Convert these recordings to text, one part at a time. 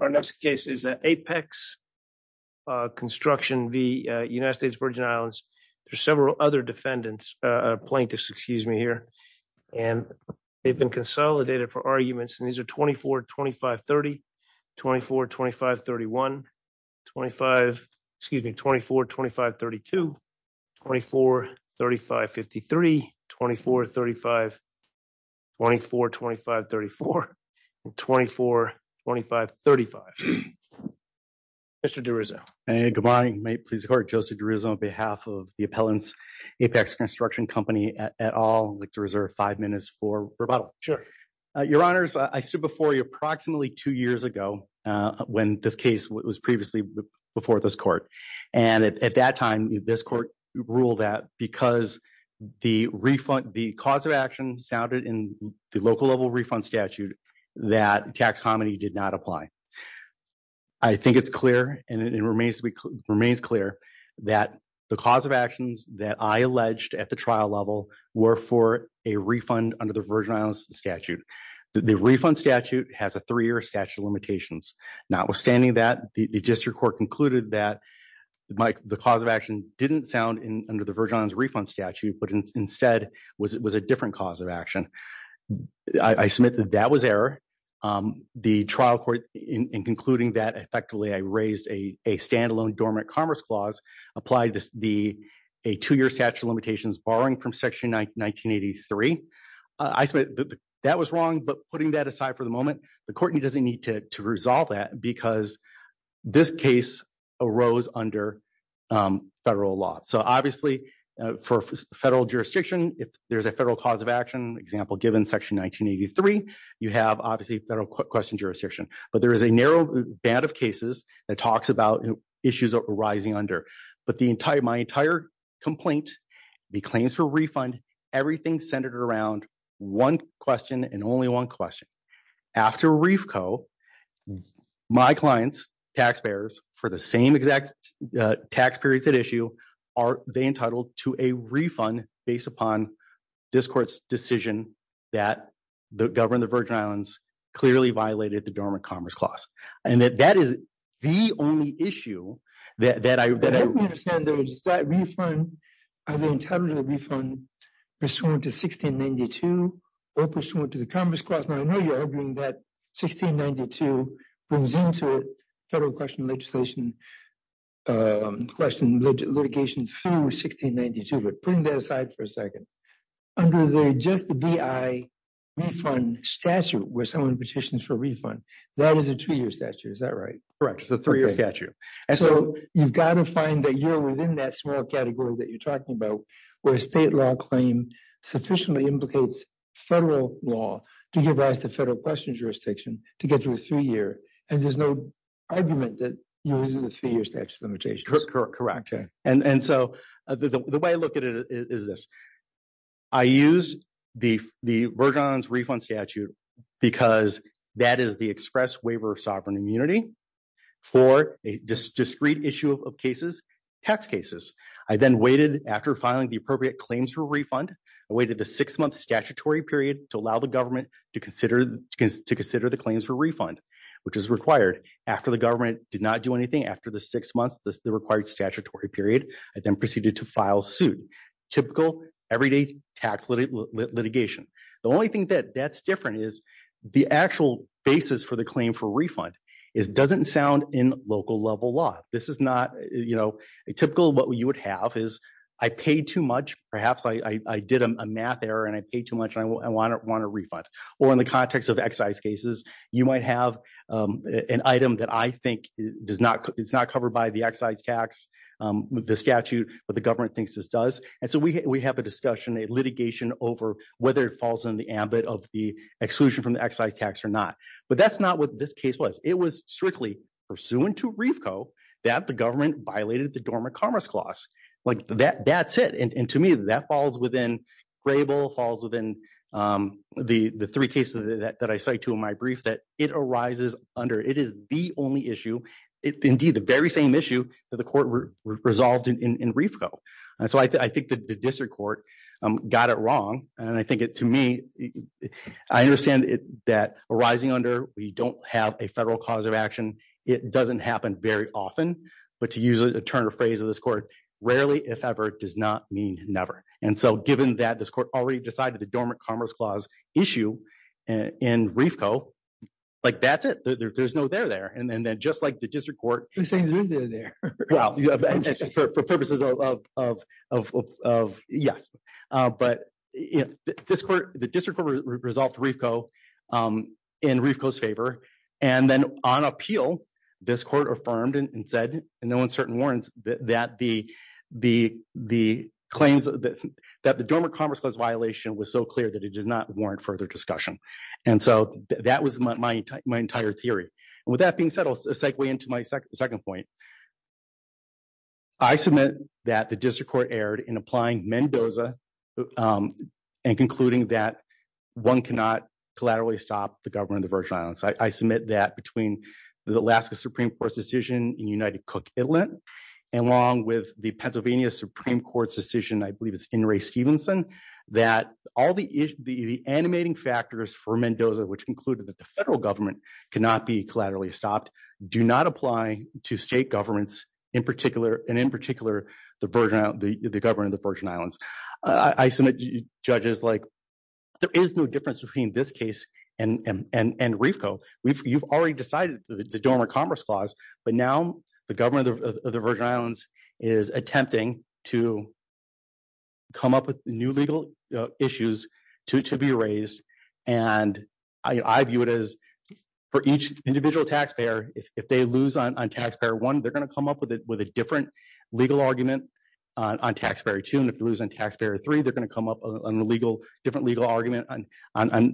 Our next case is Apex Construction v. United States Virgin Islands. There are several other defendants, plaintiffs, excuse me, here, and they've been consolidated for arguments. And these are 24, 25, 30, 24, 25, 31, 25, excuse me, 24, 25, 32, 24, 35, 53, 24, 35, 24, 25, 34, 24, 25, 35. Mr. DeRuzzo. Hey, good morning. My name is Joseph DeRuzzo on behalf of the appellants, Apex Construction Company et al. I'd like to reserve five minutes for rebuttal. Sure. Your honors, I stood before you approximately two years ago when this case was previously before this court. And at that time, this court ruled that because the refund, the cause of action sounded in the local level refund statute, that tax comedy did not apply. I think it's clear and it remains clear that the cause of actions that I alleged at the trial level were for a refund under the Virgin Islands statute. The refund statute has a three-year statute of limitations. Notwithstanding that, the district court concluded that the cause of action didn't sound under the Virgin Islands refund statute, but instead was a different cause of action. I submit that that was error. The trial court, in concluding that effectively, I raised a standalone dormant commerce clause, applied a two-year statute of limitations borrowing from section 1983. I submit that that was wrong. But putting that aside for the moment, the court doesn't need to resolve that because this case arose under federal law. Obviously, for federal jurisdiction, if there's a federal cause of action, example given section 1983, you have obviously federal question jurisdiction. But there is a narrow band of cases that talks about issues arising under. But my entire complaint, the claims for refund, everything centered around one question and only one question. After RFCO, my clients, taxpayers, for the same exact tax periods at issue, are they entitled to a refund based upon this court's decision that the government of the Virgin Islands clearly violated the dormant commerce clause. And that that is the only issue that I... I don't understand though. Is that refund, are they entitled to a refund pursuant to 1692 or pursuant to the commerce clause? Now, I know you're arguing that 1692 brings into federal question legislation a question litigation through 1692. But putting that aside for a second, under the just the DI refund statute, where someone petitions for refund, that is a two-year statute. Is that right? Correct. It's a three-year statute. And so you've got to find that you're within that small category that you're talking about, where a state law claim sufficiently implicates federal law to give rise to federal question jurisdiction to get through a three-year. And there's no argument that you're using the three-year statute of limitations. Correct. And so the way I look at it is this. I use the Virgin Islands refund statute because that is the express waiver of sovereign immunity for a discrete issue of cases, tax cases. I then waited after filing the appropriate claims for refund. I waited the six-month statutory period to allow the government to consider the claims for refund, which is required. After the government did not do anything after the six months, the required statutory period, I then proceeded to file suit. Typical everyday tax litigation. The only thing that's different is the actual basis for the claim for refund is doesn't sound in local level law. This is not, you know, a typical what you would have is I paid too much. Perhaps I did a math error and I paid too much and I want a refund. Or in the context of excise cases, you might have an item that I think is not covered by the excise tax, the statute, but the government thinks this does. And so we have a discussion, a litigation over whether it falls in the ambit of the exclusion from the excise tax or not. But that's not what this case was. It was strictly pursuant to RFCO that the government violated the Dormant Commerce Clause. Like that's it. And to me, that falls within Grable, falls within the three cases that I say to my brief that it arises under. It is the only issue. Indeed, the very same issue that the court resolved in RFCO. And so I think that the district court got it wrong. And I think it to me, I understand that arising under we don't have a federal cause of action. It doesn't happen very often. But to use a turn of phrase of this court, rarely, if ever, does not mean never. And so given that this court already decided the Dormant Commerce Clause issue in RFCO, like that's it. There's no there there. And then just like the district court. You're saying there's no there there. Well, for purposes of yes. But this court, the district court resolved RFCO in RFCO's favor. And then on appeal, this court affirmed and said, and no one certain warrants that the claims that the Dormant Commerce Clause violation was so clear that it does not warrant further discussion. And so that was my entire theory. And with that being said, I'll segue into my second point. I submit that the district court erred in applying Mendoza and concluding that one cannot collaterally stop the government of the Virgin Islands. I submit that between the Alaska Supreme Court's decision in United Cook, Italy, along with the Pennsylvania Supreme Court's decision, I believe it's in Ray Stevenson, that all the animating factors for Mendoza, which concluded that the federal government cannot be collaterally stopped, do not apply to state governments, in particular, and in particular, the government of the Virgin Islands. I submit, judges, there is no difference between this case and RFCO. You've already decided the Dormant Commerce Clause, but now the government of the Virgin Islands is attempting to come up with new legal issues to be raised. And I view it as, for each individual taxpayer, if they lose on taxpayer one, they're going to come up with a different legal argument on taxpayer two, and if they lose on taxpayer three, they're going to come up with a different legal argument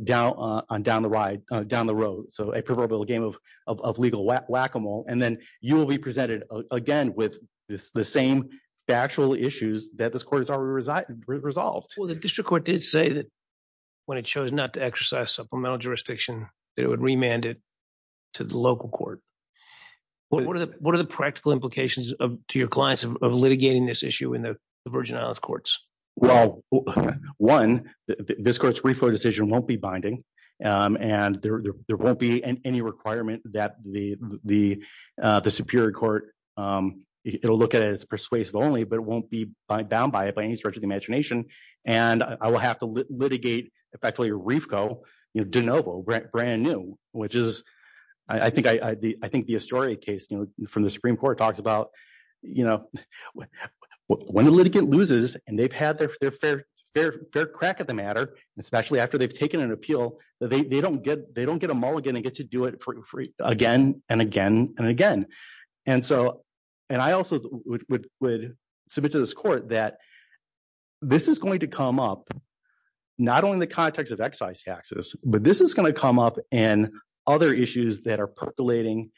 down the road. So a proverbial game of legal whack-a-mole. And then you will be presented again with the same factual issues that this court has already resolved. Well, the district court did say that when it chose not to exercise supplemental jurisdiction, that it would remand it to the local court. What are the practical implications to your clients of litigating this issue in the Virgin Islands courts? Well, one, this court's RFCO decision won't be binding, and there won't be any requirement that the Superior Court, it'll look at it as persuasive only, but it won't be bound by it by any stretch of the imagination. And I will have to litigate, if I tell you RFCO, you know, de novo, brand new, which I think the Astoria case from the Supreme Court talks about, you know, when a litigant loses and they've had their fair crack at the matter, especially after they've taken an appeal, they don't get a mulligan and get to do it again and again and again. And so, and I also would submit to this court that this is going to come up, not only in and other issues that are percolating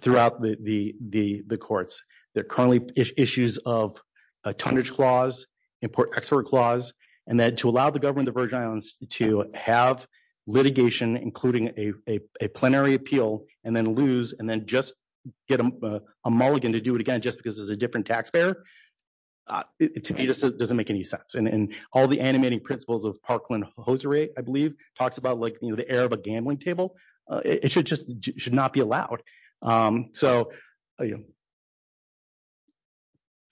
throughout the courts. There are currently issues of a tonnage clause, import-export clause, and that to allow the government of the Virgin Islands to have litigation, including a plenary appeal, and then lose and then just get a mulligan to do it again just because it's a different taxpayer, to me just doesn't make any sense. And all the animating principles of Parkland-Hosiery, I believe, talks about like, you know, the error of a gambling table, it should just, should not be allowed. So, you know,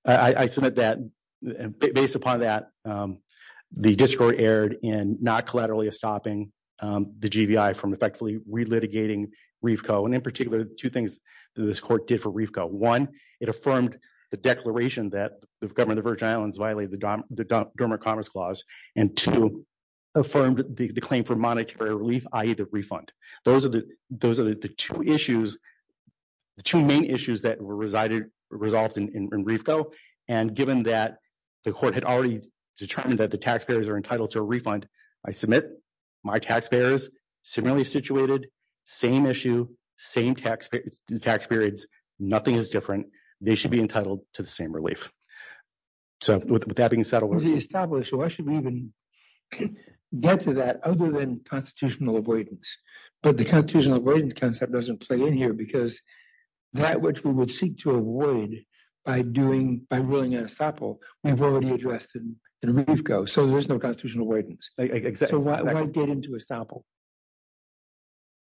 I submit that, and based upon that, the district court erred in not collaterally stopping the GVI from effectively re-litigating REFCO, and in particular, two things this court did for REFCO. One, it affirmed the declaration that the government of the Virgin Islands violated the Dormant Commerce Clause, and two, it affirmed the claim for monetary relief, i.e. the refund. Those are the two issues, the two main issues that were resolved in REFCO, and given that the court had already determined that the taxpayers are entitled to a refund, I submit my taxpayers, similarly situated, same issue, same tax periods, nothing is different, they should be entitled to the same relief. So, with that being settled. To establish, why should we even get to that other than constitutional avoidance? But the constitutional avoidance concept doesn't play in here, because that which we would seek to avoid by doing, by ruling an estoppel, we've already addressed in REFCO, so there's no constitutional avoidance. Exactly. So why get into estoppel?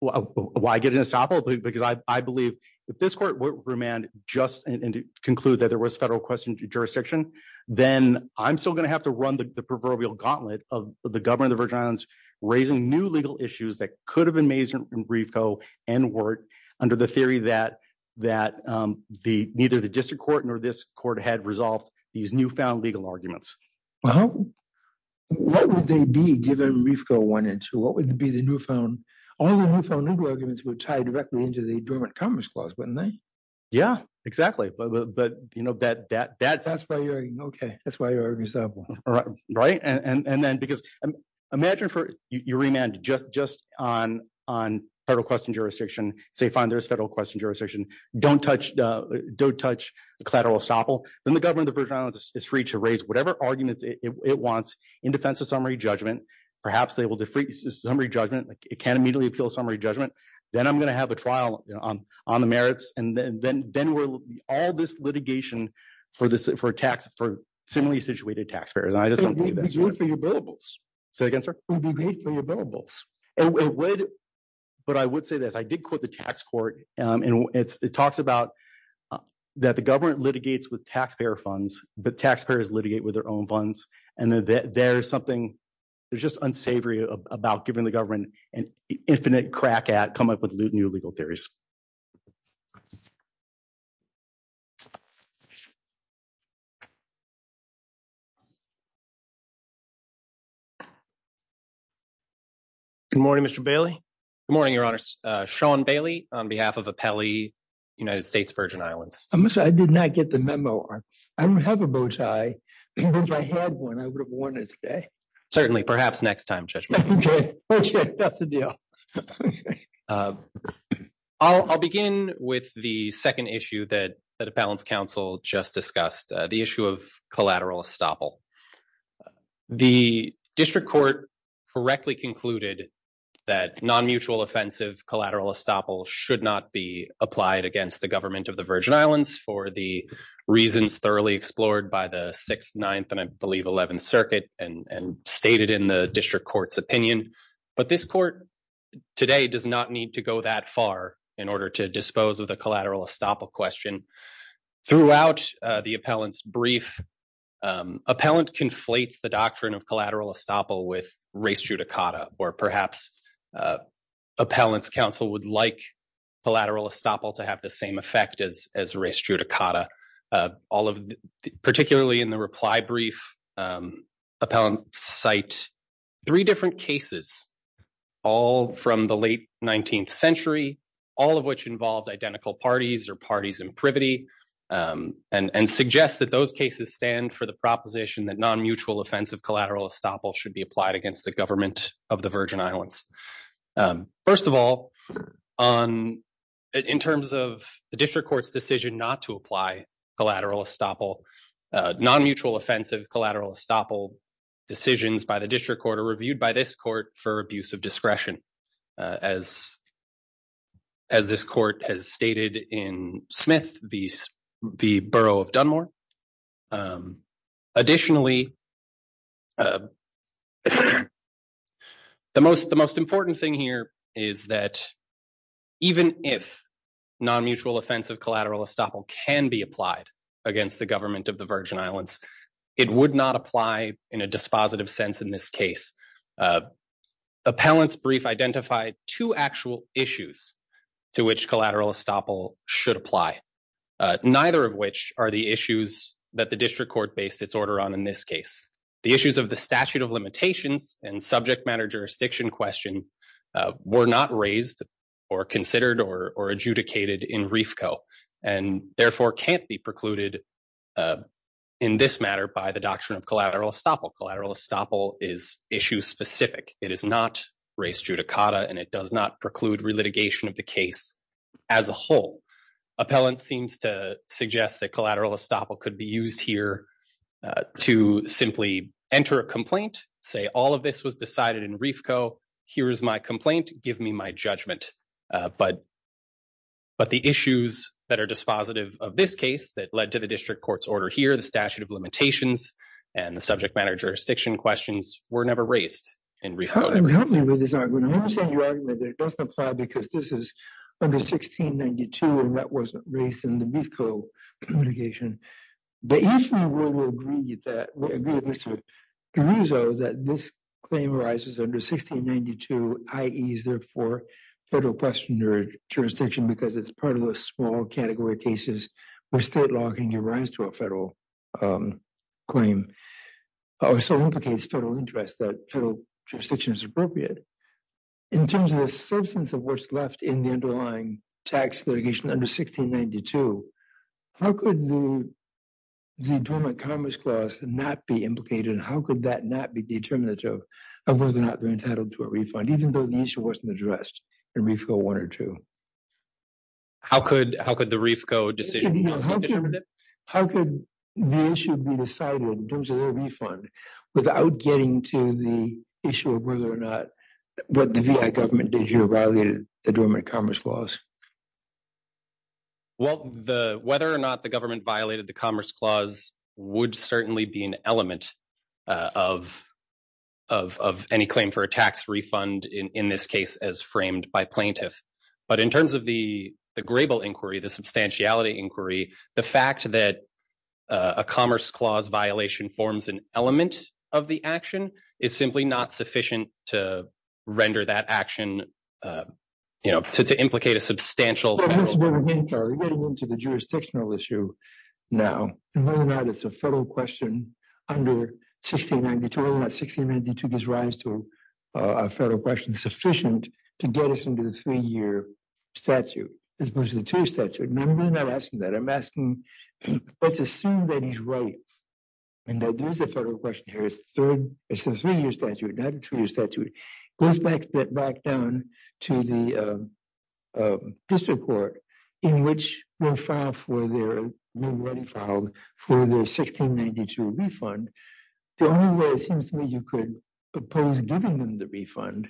Why get into estoppel? Because I believe, if this court were to remand just, and to conclude that there was a federal jurisdiction, then I'm still going to have to run the proverbial gauntlet of the government of the Virgin Islands raising new legal issues that could have been raised in REFCO and WERT under the theory that neither the district court nor this court had resolved these newfound legal arguments. What would they be given REFCO 1 and 2? What would be the newfound, all the newfound legal arguments would tie directly into the dormant commerce clause, wouldn't they? Yeah, exactly. But, but, you know, that, that, that's. That's why you're, okay, that's why you're resettling. Right, right. And, and then, because imagine for, you remand just, just on, on federal question jurisdiction, say, fine, there's federal question jurisdiction, don't touch, don't touch the collateral estoppel, then the government of the Virgin Islands is free to raise whatever arguments it wants in defense of summary judgment. Perhaps they will defrace the summary judgment, like it can't immediately appeal summary judgment. Then I'm going to have a trial, you know, on, on the merits. And then, then, then we're all this litigation for this, for tax, for similarly situated taxpayers. And I just don't think that's good for your billables. Say again, sir? It would be great for your billables. It would, but I would say this, I did quote the tax court and it's, it talks about that the government litigates with taxpayer funds, but taxpayers litigate with their own funds. And there's something, there's just unsavory about giving the government an infinite crack at come up with new legal theories. Good morning, Mr. Bailey. Good morning, your honors. Sean Bailey on behalf of Apelli United States Virgin Islands. I'm sorry, I did not get the memo. I don't have a bow tie. If I had one, I would have worn it today. Certainly, perhaps next time, Judge. That's a deal. I'll, I'll begin with the second issue that the balance council just discussed the issue of collateral estoppel. The district court correctly concluded that non-mutual offensive collateral estoppel should not be applied against the government of the Virgin Islands for the reasons thoroughly explored by the sixth, ninth, and I believe 11th circuit and stated in the district court's But this court today does not need to go that far in order to dispose of the collateral estoppel question throughout the appellant's brief. Appellant conflates the doctrine of collateral estoppel with race judicata, or perhaps appellant's counsel would like collateral estoppel to have the same effect as race judicata. All of the, particularly in the reply brief, appellant cite three different cases, all from the late 19th century, all of which involved identical parties or parties in privity and suggest that those cases stand for the proposition that non-mutual offensive collateral estoppel should be applied against the government of the Virgin Islands. First of all, in terms of the district court's decision not to apply collateral estoppel, non-mutual offensive collateral estoppel decisions by the district court are reviewed by this court for abuse of discretion, as this court has stated in Smith v. Borough of Dunmore. Additionally, the most important thing here is that even if non-mutual offensive collateral estoppel can be applied against the government of the Virgin Islands, it would not apply in a dispositive sense in this case. Appellant's brief identified two actual issues to which the district court based its order on in this case. The issues of the statute of limitations and subject matter jurisdiction question were not raised or considered or adjudicated in RFCO, and therefore can't be precluded in this matter by the doctrine of collateral estoppel. Collateral estoppel is issue-specific. It is not race judicata, and it does not preclude relitigation of the case as a whole. Appellant seems to suggest that collateral estoppel could be used here to simply enter a complaint, say all of this was decided in RFCO, here is my complaint, give me my judgment. But the issues that are dispositive of this case that led to the district court's order here, the statute of limitations, and the subject matter jurisdiction questions were never raised in RFCO. I'm happy with this argument. I'm happy with your argument that it doesn't apply because this is under 1692, and that wasn't raised in the BFCO litigation. But each of you will agree that, agree with Mr. Caruso, that this claim arises under 1692, i.e. is there for federal questioner jurisdiction because it's part of a small category of cases where state law can give rise to a federal claim, or so implicates federal interest that jurisdiction is appropriate. In terms of the substance of what's left in the underlying tax litigation under 1692, how could the employment commerce clause not be implicated, how could that not be determinative of whether or not they're entitled to a refund, even though the issue wasn't addressed in RFCO 1 or 2? How could the RFCO decision be determinative? How could the issue be decided in terms of a refund without getting to the issue of whether or not what the VI government did here violated the employment commerce clause? Well, whether or not the government violated the commerce clause would certainly be an element of any claim for a tax refund in this case as framed by plaintiff. But in terms of the Grable inquiry, the substantiality inquiry, the fact that a commerce clause violation forms an element of the action is simply not sufficient to render that action, you know, to implicate a substantial... Getting into the jurisdictional issue now, and whether or not it's a federal question under 1692, whether or not 1692 gives rise to a federal question sufficient to get us to the three-year statute as opposed to the two-year statute. And I'm really not asking that. I'm asking, let's assume that he's right and that there is a federal question here. It's a three-year statute, not a two-year statute. It goes back down to the district court in which they're ready to file for the 1692 refund. The only way it seems to me you could oppose giving them the refund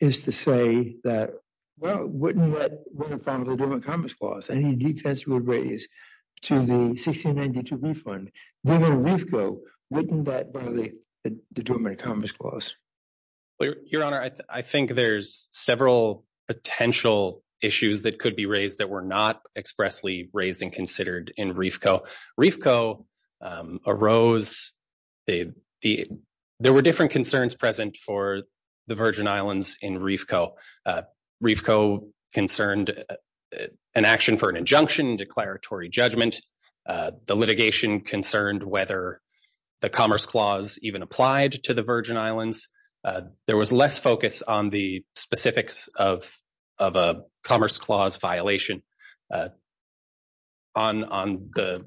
is to say that, well, wouldn't let... Wouldn't file a different commerce clause. Any defense would raise to the 1692 refund. Given RFCO, wouldn't that violate the determined commerce clause? Your Honor, I think there's several potential issues that could be raised that were not expressly raised and considered in RFCO. RFCO arose... There were different concerns present for the Virgin Islands in RFCO. RFCO concerned an action for an injunction, declaratory judgment. The litigation concerned whether the commerce clause even applied to the Virgin Islands. There was less focus on the specifics of a commerce clause violation. On the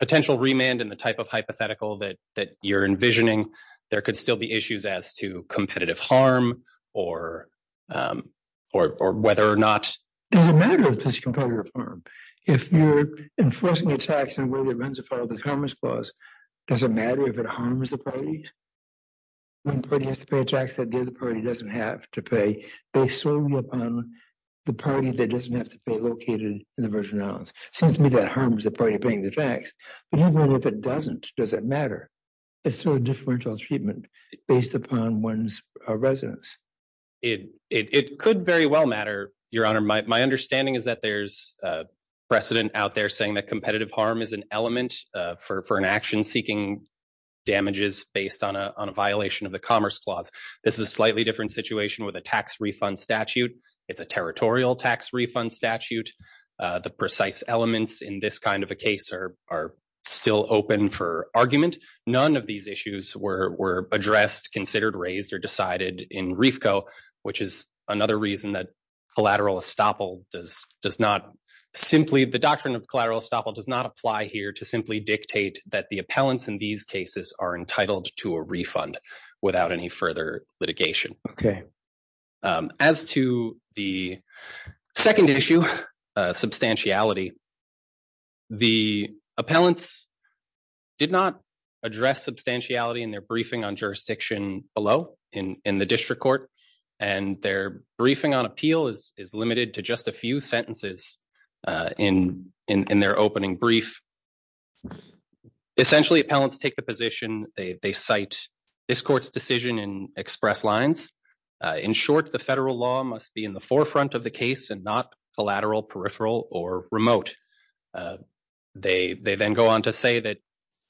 potential remand and the type of hypothetical that you're envisioning, there could still be issues as to competitive harm or whether or not... Does it matter if there's competitive harm? If you're enforcing a tax on whether it runs afoul of the commerce clause, does it matter if it harms the party? When a party has to pay a tax that the other party doesn't have to pay, they serve you upon the party that doesn't have to pay located in the Virgin Islands. Seems to me that harms the party paying the tax, but even if it doesn't, does it matter? It's still a differential treatment based upon one's residence. It could very well matter, Your Honor. My understanding is that there's precedent out there saying that competitive harm is an element for an action seeking damages based on a violation of the commerce clause. This is a slightly different situation with a tax refund statute. It's a territorial tax refund statute. The precise elements in this kind of a case are still open for argument. None of these issues were addressed, considered, raised, or decided in RFCO, which is another reason that collateral estoppel does not simply... The doctrine of collateral estoppel does not apply here to simply dictate that the appellants in these cases are entitled to a refund without any further litigation. Okay. As to the second issue, substantiality, the appellants did not address substantiality in their briefing on jurisdiction below in the district court, and their briefing on appeal is limited to just a few sentences in their opening brief. Essentially, appellants take the position, they cite this court's decision in express lines. In short, the federal law must be in the forefront of the case and not collateral, peripheral, or remote. They then go on to say that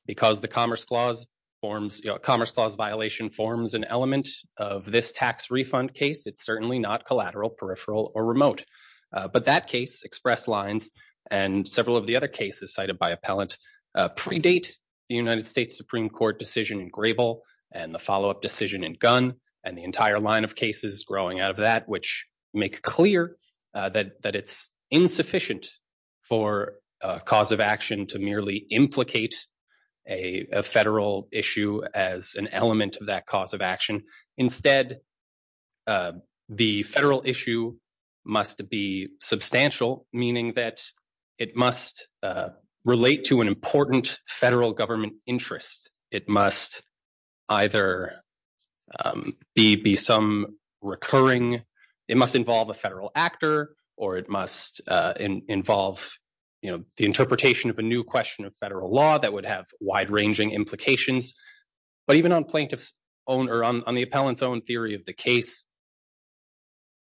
because the commerce clause violation forms an element of this tax refund case, it's certainly not collateral, peripheral, or remote. But that case, express lines, and several of the other cases cited by appellant predate the United States Supreme Court decision in Grable, and the follow-up decision in Gunn, and the entire line of cases growing out of that, which make clear that it's insufficient for a cause of action to merely implicate a federal issue as an element of that cause of action. Instead, the federal issue must be substantial, meaning that it must relate to an important federal government interest. It must either be some recurring, it must involve a federal actor, or it must involve the interpretation of a new question of federal law that would have wide-ranging implications. But even on the appellant's own theory of the case,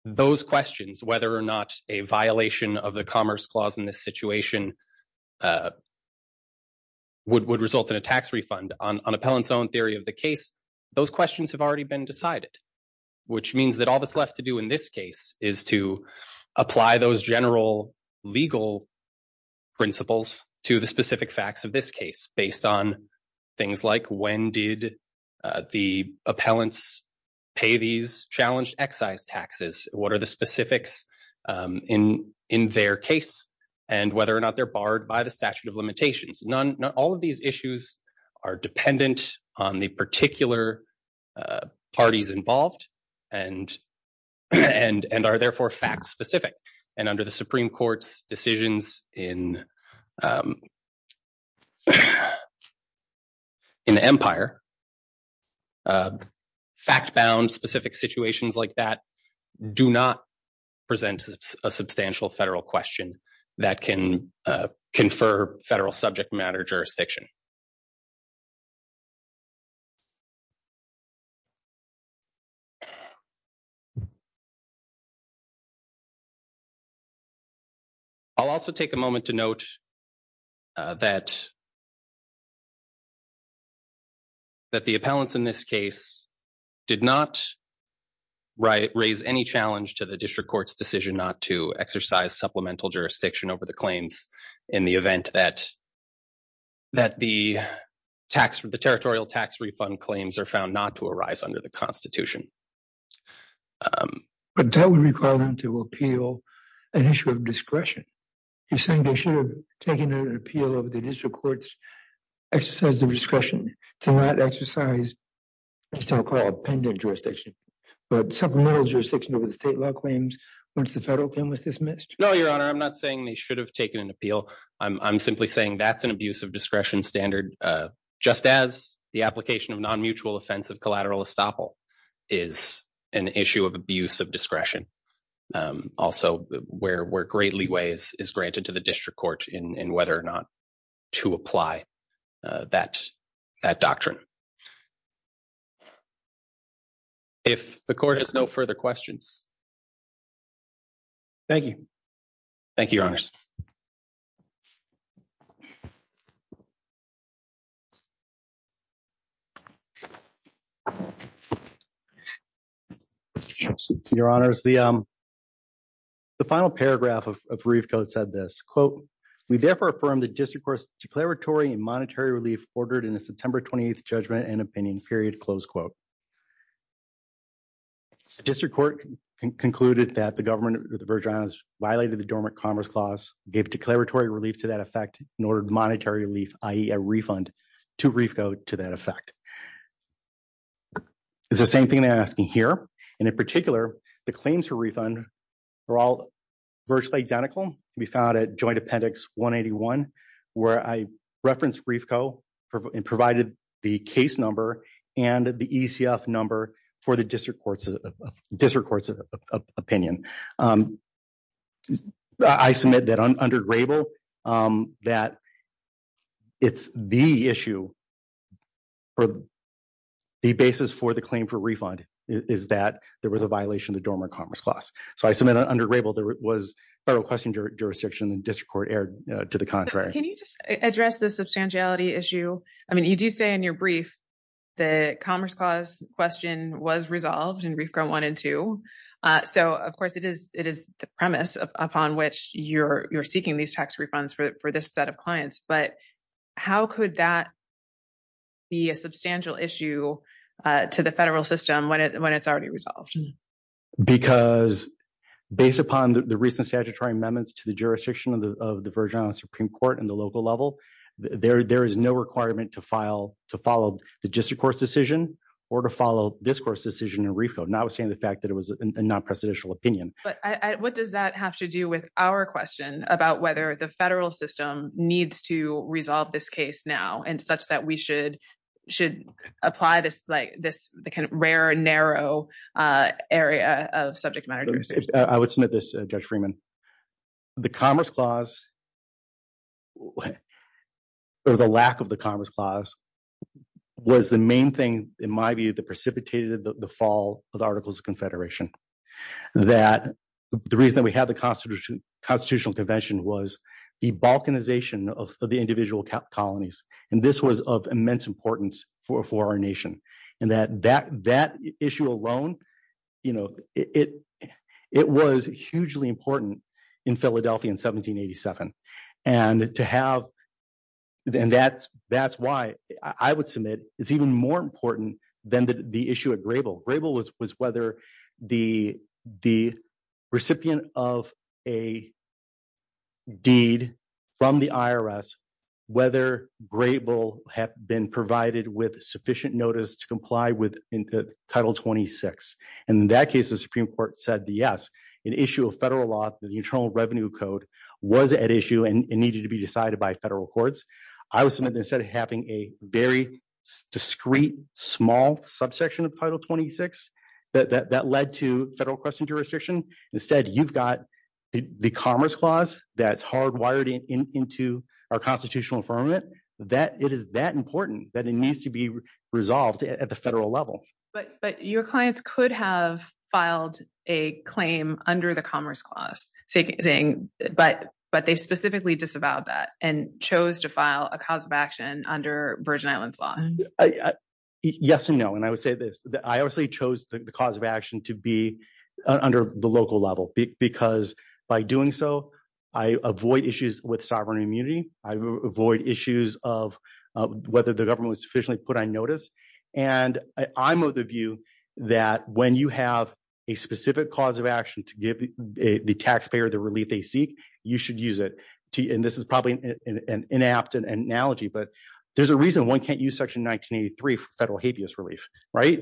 those questions, whether or not a violation of the commerce clause in this situation would result in a tax refund, on an appellant's own theory of the case, those questions have already been decided, which means that all that's left to do in this case is to apply those general legal principles to the specific facts of this case based on things like when did the appellants pay these challenged excise taxes, what are the specifics in their case, and whether or not they're barred by the statute of limitations. All of these issues are dependent on the particular parties involved and are therefore fact-specific. And under the Supreme Court's decisions in the Empire, fact-bound specific situations like that do not present a substantial federal question that can confer federal subject matter jurisdiction. I'll also take a moment to note that the appellants in this case did not raise any challenge to the district court's decision not to exercise supplemental jurisdiction over the claims in the event that the territorial tax refund claims are found not to arise under the Constitution. But that would require them to appeal an issue of discretion. You're saying they should have taken an appeal over the district court's exercise of discretion to not exercise the so-called pendent jurisdiction, but supplemental jurisdiction over the state law claims once the federal claim was dismissed? No, Your Honor, I'm not saying they should have taken an appeal. I'm simply saying that's an abuse of discretion standard, just as the application of non-mutual offense of collateral estoppel is an issue of abuse of discretion. Also, where great leeway is granted to the district court in whether or not to apply that doctrine. If the court has no further questions. Thank you. Thank you, Your Honors. Your Honors, the final paragraph of Reef Code said this, quote, we therefore affirm the district court's declaratory and monetary relief ordered in the September 28th judgment and opinion period, close quote. The district court concluded that the government of the Virgin Islands violated the Dormant Commerce Clause, gave declaratory relief to that effect, and ordered monetary relief, i.e., a refund to Reef Code to that effect. It's the same thing I'm asking here. And in particular, the claims for refund are all virtually identical. We found at Joint Appendix 181, where I referenced Reef Code and provided the case number and the ECF number for the district court's opinion. I submit that under Grable, that it's the issue or the basis for the claim for refund is that there was a violation of the Dormant Commerce Clause. So I submit under Grable, it was federal question jurisdiction and district court erred to the contrary. Can you just address the substantiality issue? I mean, you do say in your brief, the Commerce Clause question was resolved in Reef Code 1 and 2. So of course, it is the premise upon which you're seeking these tax refunds for this set of clients. But how could that be a substantial issue to the federal system when it's already resolved? Because based upon the recent statutory amendments to the jurisdiction of the Virginia Supreme Court and the local level, there is no requirement to follow the district court's decision or to follow this court's decision in Reef Code, notwithstanding the fact that it was a non-presidential opinion. But what does that have to do with our question about whether the federal system needs to resolve this case now and such that we should apply this kind of rare, narrow area of subject matter jurisdiction? I would submit this, Judge Freeman. The Commerce Clause or the lack of the Commerce Clause was the main thing, in my view, that precipitated the fall of the Articles of Confederation. The reason that we had the Constitutional Convention was the balkanization of the individual colonies. And this was of immense importance for our nation. And that issue alone, it was hugely important in Philadelphia in 1787. And that's why I would submit it's even more important than the issue at Grable. Grable was whether the recipient of a deed from the IRS, whether Grable had been provided with sufficient notice to comply with Title 26. And in that case, the Supreme Court said yes. An issue of federal law, the Internal Revenue Code, was at issue and needed to be decided by federal courts. I would submit instead of having a very discreet, small subsection of Title 26 that led to federal jurisdiction. Instead, you've got the Commerce Clause that's hardwired into our Constitutional Affirmative. It is that important that it needs to be resolved at the federal level. But your clients could have filed a claim under the Commerce Clause, but they specifically disavowed that and chose to file a cause of action under Virgin Islands law. I, yes and no. And I would say this, I obviously chose the cause of action to be under the local level, because by doing so, I avoid issues with sovereign immunity. I avoid issues of whether the government was sufficiently put on notice. And I'm of the view that when you have a specific cause of action to give the taxpayer the relief they seek, you should use it. And this is probably an inapt analogy, but there's a reason one can't use Section 1983 for federal habeas relief, right?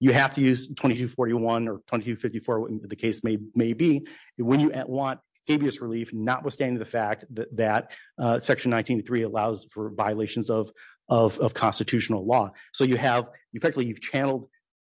You have to use 2241 or 2254, the case may be, when you want habeas relief, notwithstanding the fact that Section 1983 allows for violations of Constitutional law. So you have, effectively, you've channeled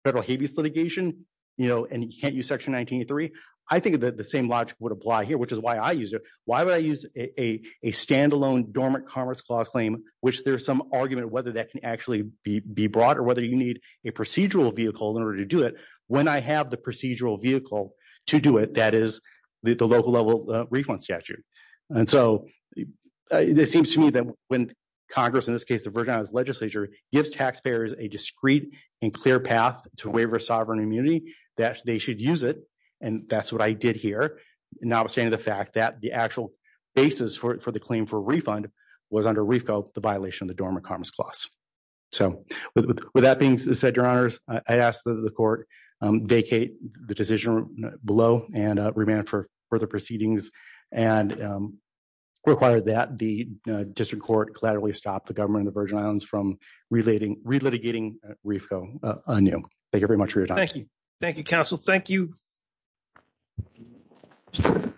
federal habeas litigation, and you can't use Section 1983. I think that the same logic would apply here, which is why I use it. Why would I use a standalone dormant Commerce Clause claim, which there's some argument whether that can actually be brought or whether you need a procedural vehicle in order to do it. When I have the procedural vehicle to do it, that is the local level refund statute. And so it seems to me that when Congress, in this case, the Virgin Islands Legislature, gives taxpayers a discreet and clear path to waiver sovereign immunity, that they should use it. And that's what I did here, notwithstanding the fact that the actual basis for the claim for refund was under REFCO, the violation of the dormant Commerce Clause. So with that being said, Your Honors, I ask that the Court vacate the decision below and remand for further proceedings and require that the District Court collaterally stop the Government of the Virgin Islands from relitigating REFCO anew. Thank you very much for your time. Thank you. Thank you, counsel. Thank you. Thank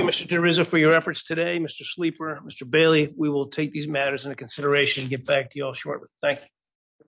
you, Mr. Terriza, for your efforts today. Mr. Sleeper, Mr. Bailey, we will take these matters into consideration and get back to you all shortly. Thank you.